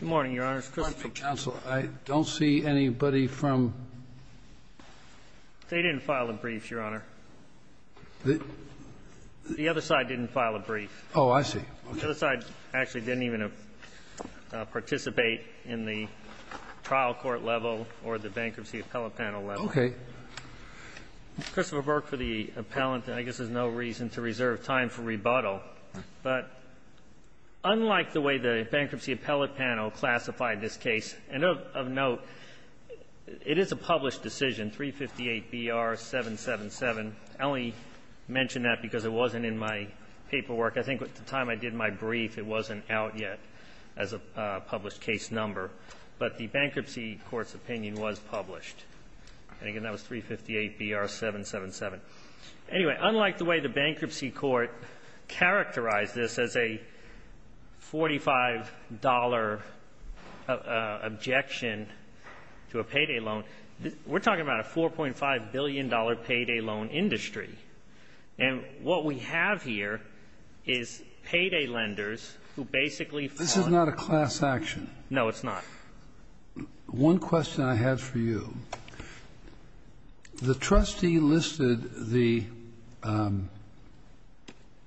Good morning, Your Honor. Good morning, Counsel. I don't see anybody from... They didn't file a brief, Your Honor. The other side didn't file a brief. Oh, I see. The other side actually didn't even participate in the trial court level or the bankruptcy appellate panel level. Okay. Christopher Burke for the appellant. I guess there's no reason to reserve time for rebuttal. But unlike the way the bankruptcy appellate panel classified this case, and of note, it is a published decision, 358 B.R. 777. I only mention that because it wasn't in my paperwork. I think at the time I did my brief, it wasn't out yet as a published case number. But the bankruptcy court's decision, 358 B.R. 777. Anyway, unlike the way the bankruptcy court characterized this as a $45 objection to a payday loan, we're talking about a $4.5 billion payday loan industry. And what we have here is payday lenders who basically fought... This is not a class action. No, it's not. One question I have for you. The trustee listed the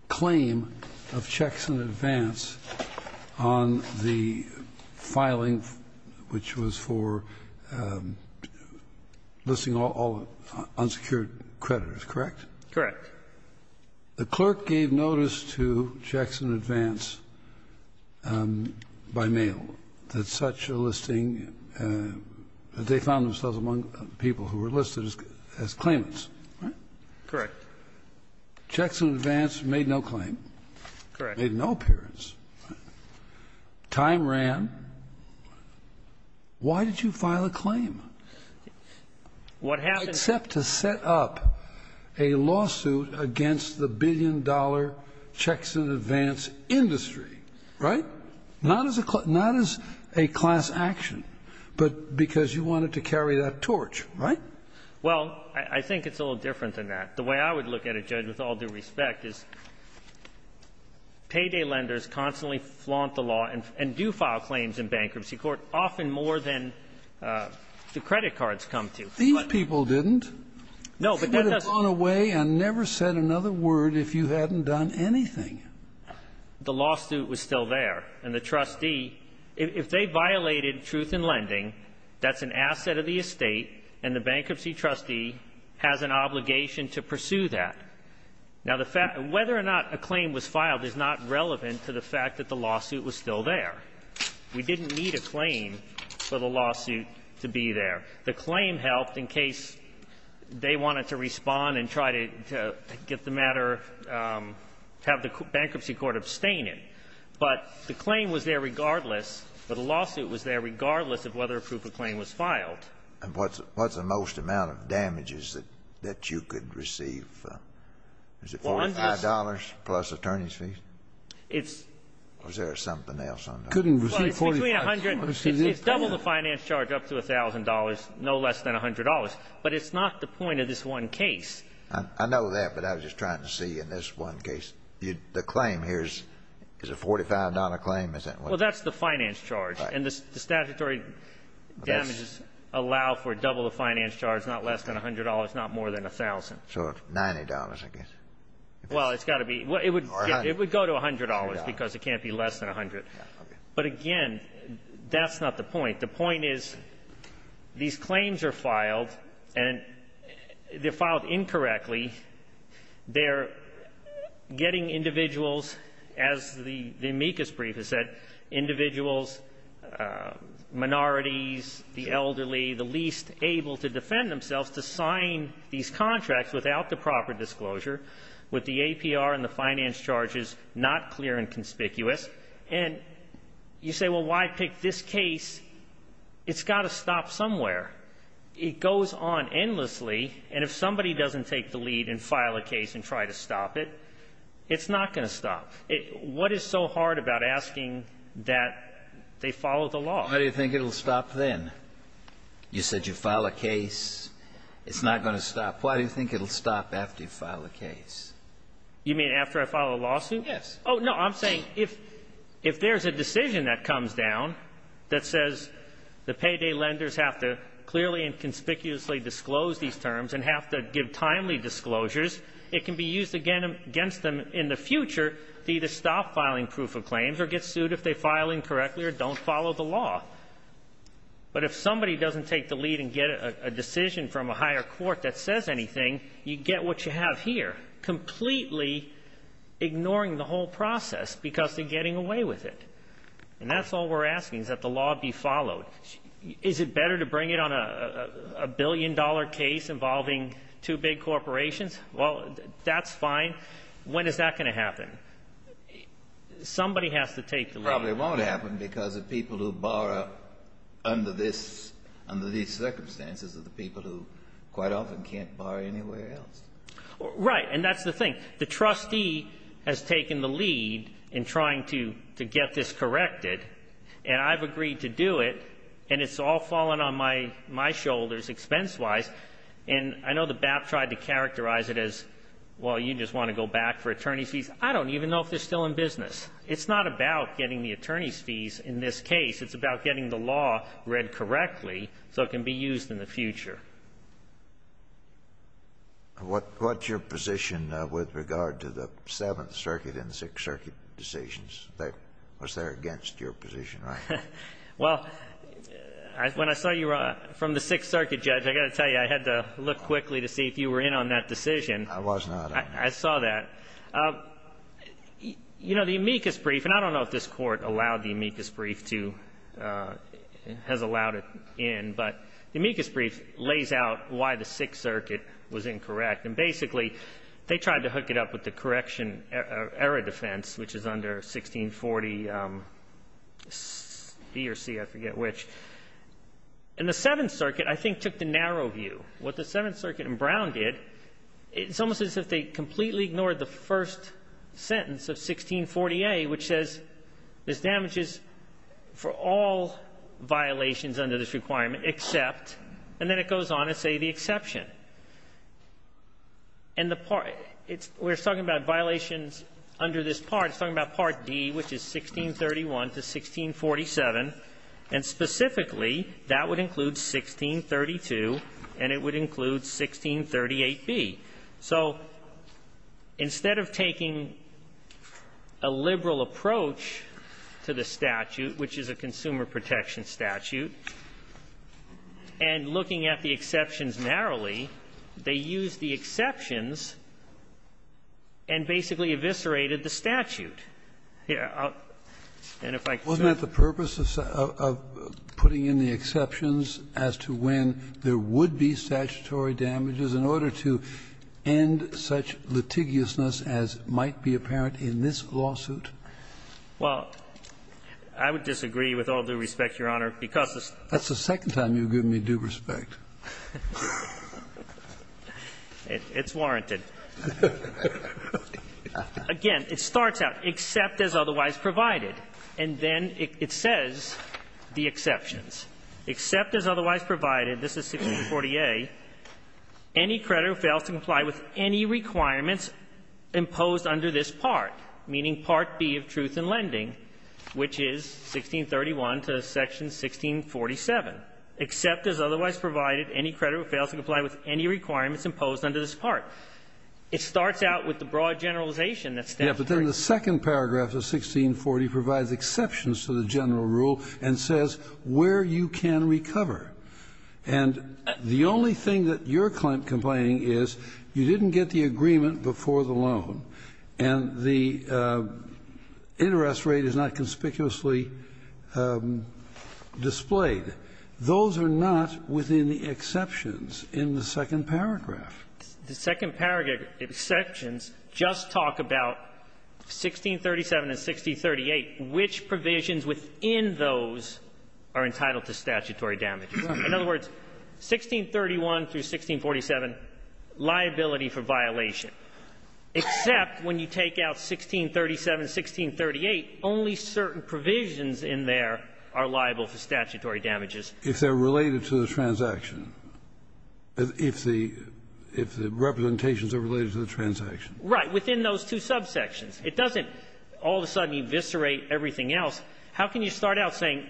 claim of checks in advance on the filing, which was for listing all unsecured creditors, correct? Correct. The clerk gave notice to checks in advance by mail that such a listing, that they found themselves among people who were listed as claimants, right? Correct. Checks in advance made no claim. Correct. Made no appearance. Time ran. Why did you file a claim? What happened... ...against the billion-dollar checks in advance industry, right? Not as a class action, but because you wanted to carry that torch, right? Well, I think it's a little different than that. The way I would look at it, Judge, with all due respect, is payday lenders constantly flaunt the law and do file claims in bankruptcy court, often more than the credit cards come to. These people didn't. No, but that doesn't... Okay. I never said another word if you hadn't done anything. The lawsuit was still there. And the trustee, if they violated truth in lending, that's an asset of the estate, and the bankruptcy trustee has an obligation to pursue that. Now, whether or not a claim was filed is not relevant to the fact that the lawsuit was still there. We didn't need a claim for the lawsuit to be there. The claim helped in case they wanted to respond and try to get the matter, have the bankruptcy court abstain it. But the claim was there regardless. The lawsuit was there regardless of whether a proof of claim was filed. And what's the most amount of damages that you could receive? Was it $45 plus attorney's fees? It's... Or is there something else on that? Couldn't receive $45. It's double the finance charge up to $1,000, no less than $100. But it's not the point of this one case. I know that, but I was just trying to see in this one case. The claim here is a $45 claim, isn't it? Well, that's the finance charge. Right. And the statutory damages allow for double the finance charge, not less than $100, not more than $1,000. So $90, I guess. Well, it's got to be. It would go to $100 because it can't be less than $100. But, again, that's not the point. The point is these claims are filed, and they're filed incorrectly. They're getting individuals, as the amicus brief has said, individuals, minorities, the elderly, the least able to defend themselves to sign these contracts without the proper disclosure, with the APR and the finance charges not clear and conspicuous. And you say, well, why pick this case? It's got to stop somewhere. It goes on endlessly, and if somebody doesn't take the lead and file a case and try to stop it, it's not going to stop. What is so hard about asking that they follow the law? Why do you think it will stop then? You said you file a case. It's not going to stop. Why do you think it will stop after you file a case? You mean after I file a lawsuit? Yes. Oh, no, I'm saying if there's a decision that comes down that says the payday lenders have to clearly and conspicuously disclose these terms and have to give timely disclosures, it can be used against them in the future to either stop filing proof of claims or get sued if they file incorrectly or don't follow the law. But if somebody doesn't take the lead and get a decision from a higher court that process because they're getting away with it, and that's all we're asking is that the law be followed, is it better to bring it on a billion-dollar case involving two big corporations? Well, that's fine. When is that going to happen? Somebody has to take the lead. It probably won't happen because the people who borrow under this, under these circumstances are the people who quite often can't borrow anywhere else. Right. And that's the thing. The trustee has taken the lead in trying to get this corrected, and I've agreed to do it, and it's all fallen on my shoulders expense-wise. And I know the BAP tried to characterize it as, well, you just want to go back for attorney's fees. I don't even know if they're still in business. It's not about getting the attorney's fees in this case. It's about getting the law read correctly so it can be used in the future. And what's your position with regard to the Seventh Circuit and Sixth Circuit decisions? Was there against your position, right? Well, when I saw you from the Sixth Circuit, Judge, I've got to tell you I had to look quickly to see if you were in on that decision. I was not. I saw that. You know, the amicus brief, and I don't know if this Court allowed the amicus brief, but the amicus brief lays out why the Sixth Circuit was incorrect. And basically, they tried to hook it up with the correction error defense, which is under 1640B or C, I forget which. And the Seventh Circuit, I think, took the narrow view. What the Seventh Circuit and Brown did, it's almost as if they completely ignored the first sentence of 1640A, which says this damages for all violations under this requirement except, and then it goes on to say the exception. And the part we're talking about violations under this part, it's talking about Part D, which is 1631 to 1647. And specifically, that would include 1632, and it would include 1638B. So instead of taking a liberal approach to the statute, which is a consumer protection statute, and looking at the exceptions narrowly, they used the exceptions and basically eviscerated the statute. And if I could just say that. Kennedy. Wasn't that the purpose of putting in the exceptions as to when there would be statutory damages in order to end such litigiousness as might be apparent in this lawsuit? Well, I would disagree with all due respect, Your Honor, because this is. That's the second time you've given me due respect. It's warranted. Again, it starts out, except as otherwise provided. And then it says the exceptions. Except as otherwise provided, this is 1640A, any creditor fails to comply with any requirements imposed under this part. It starts out with the broad generalization that's there. Yeah, but then the second paragraph of 1640 provides exceptions to the general rule and says where you can recover. And the only thing that you're complaining is you didn't get the agreement before the loan, and the interest rate is not conspicuously displayed. Those are not within the exceptions in the second paragraph. The second paragraph, exceptions, just talk about 1637 and 1638. Which provisions within those are entitled to statutory damages? In other words, 1631 through 1647, liability for violation. Except when you take out 1637, 1638, only certain provisions in there are liable for statutory damages. If they're related to the transaction. If the representations are related to the transaction. Right, within those two subsections. It doesn't all of a sudden eviscerate everything else. How can you start out saying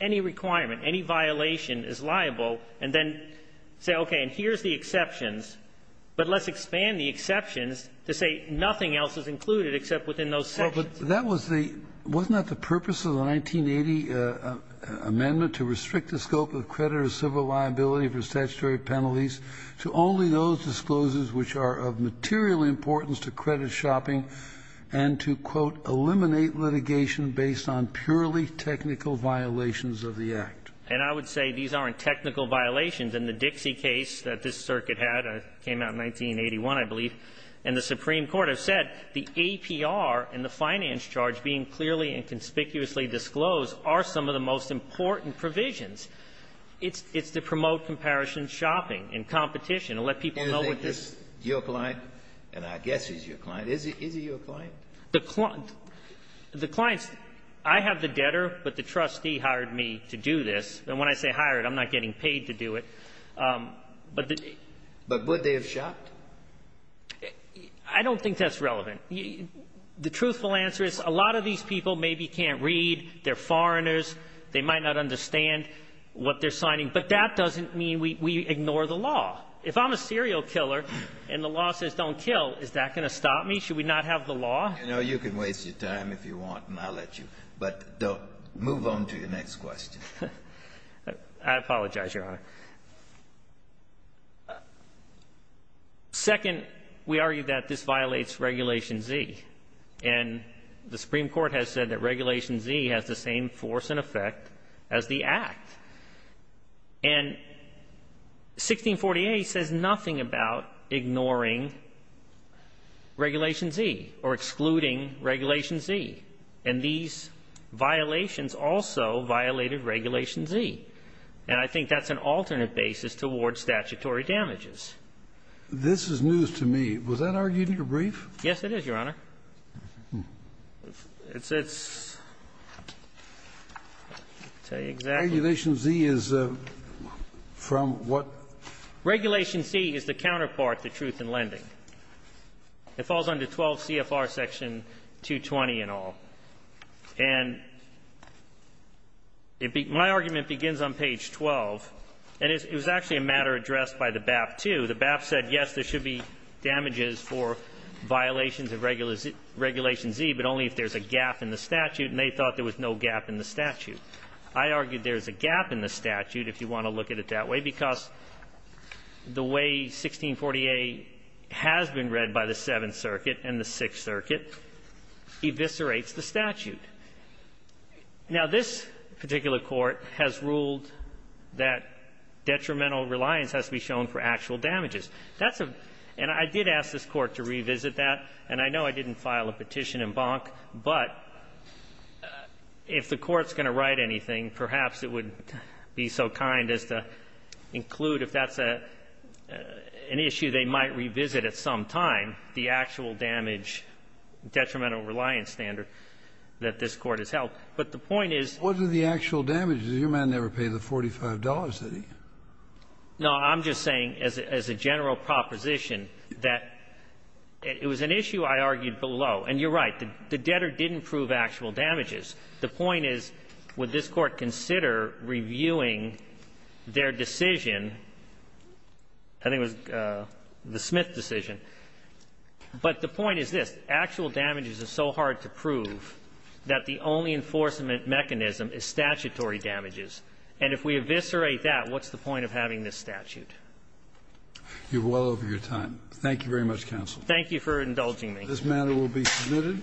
any requirement, any violation is liable, and then say, okay, and here's the exceptions, but let's expand the exceptions to say nothing else is included except within those sections. Well, but that was the, wasn't that the purpose of the 1980 amendment, to restrict the scope of credit or civil liability for statutory penalties to only those disclosures which are of material importance to credit shopping and to, quote, eliminate litigation based on purely technical violations of the Act? And I would say these aren't technical violations. In the Dixie case that this circuit had, it came out in 1981, I believe, and the Supreme Court have said the APR and the finance charge being clearly and conspicuously disclosed are some of the most important provisions. It's to promote comparison shopping and competition and let people know what this Your client, and I guess he's your client, is he your client? The clients, I have the debtor, but the trustee hired me to do this. And when I say hired, I'm not getting paid to do it. But the But would they have shopped? I don't think that's relevant. The truthful answer is a lot of these people maybe can't read, they're foreigners, they might not understand what they're signing. But that doesn't mean we ignore the law. If I'm a serial killer and the law says don't kill, is that going to stop me? Should we not have the law? You know, you can waste your time if you want, and I'll let you. But don't. Move on to your next question. I apologize, Your Honor. Second, we argue that this violates Regulation Z. And the Supreme Court has said that Regulation Z has the same force and effect as the Act. And 1648 says nothing about ignoring Regulation Z or excluding Regulation Z. And these violations also violated Regulation Z. And I think that's an alternate basis towards statutory damages. This is news to me. Was that argued in your brief? Yes, it is, Your Honor. I'll tell you exactly. Regulation Z is from what? Regulation Z is the counterpart to truth in lending. It falls under 12 CFR section 220 and all. And my argument begins on page 12. And it was actually a matter addressed by the BAP, too. The BAP said, yes, there should be damages for violations of Regulation Z, but only if there's a gap in the statute. And they thought there was no gap in the statute. I argued there's a gap in the statute, if you want to look at it that way, because the way 1648 has been read by the Seventh Circuit and the Sixth Circuit eviscerates the statute. Now, this particular Court has ruled that detrimental reliance has to be shown for actual damages. That's a — and I did ask this Court to revisit that. And I know I didn't file a petition in Bonk. But if the Court's going to write anything, perhaps it would be so kind as to include if that's an issue they might revisit at some time, the actual damage, detrimental reliance standard that this Court has held. But the point is — What are the actual damages? Your man never paid the $45, did he? No. I'm just saying, as a general proposition, that it was an issue I argued below. And you're right. The debtor didn't prove actual damages. The point is, would this Court consider reviewing their decision? I think it was the Smith decision. But the point is this. Actual damages are so hard to prove that the only enforcement mechanism is statutory damages. And if we eviscerate that, what's the point of having this statute? You're well over your time. Thank you very much, counsel. Thank you for indulging me. This matter will be submitted.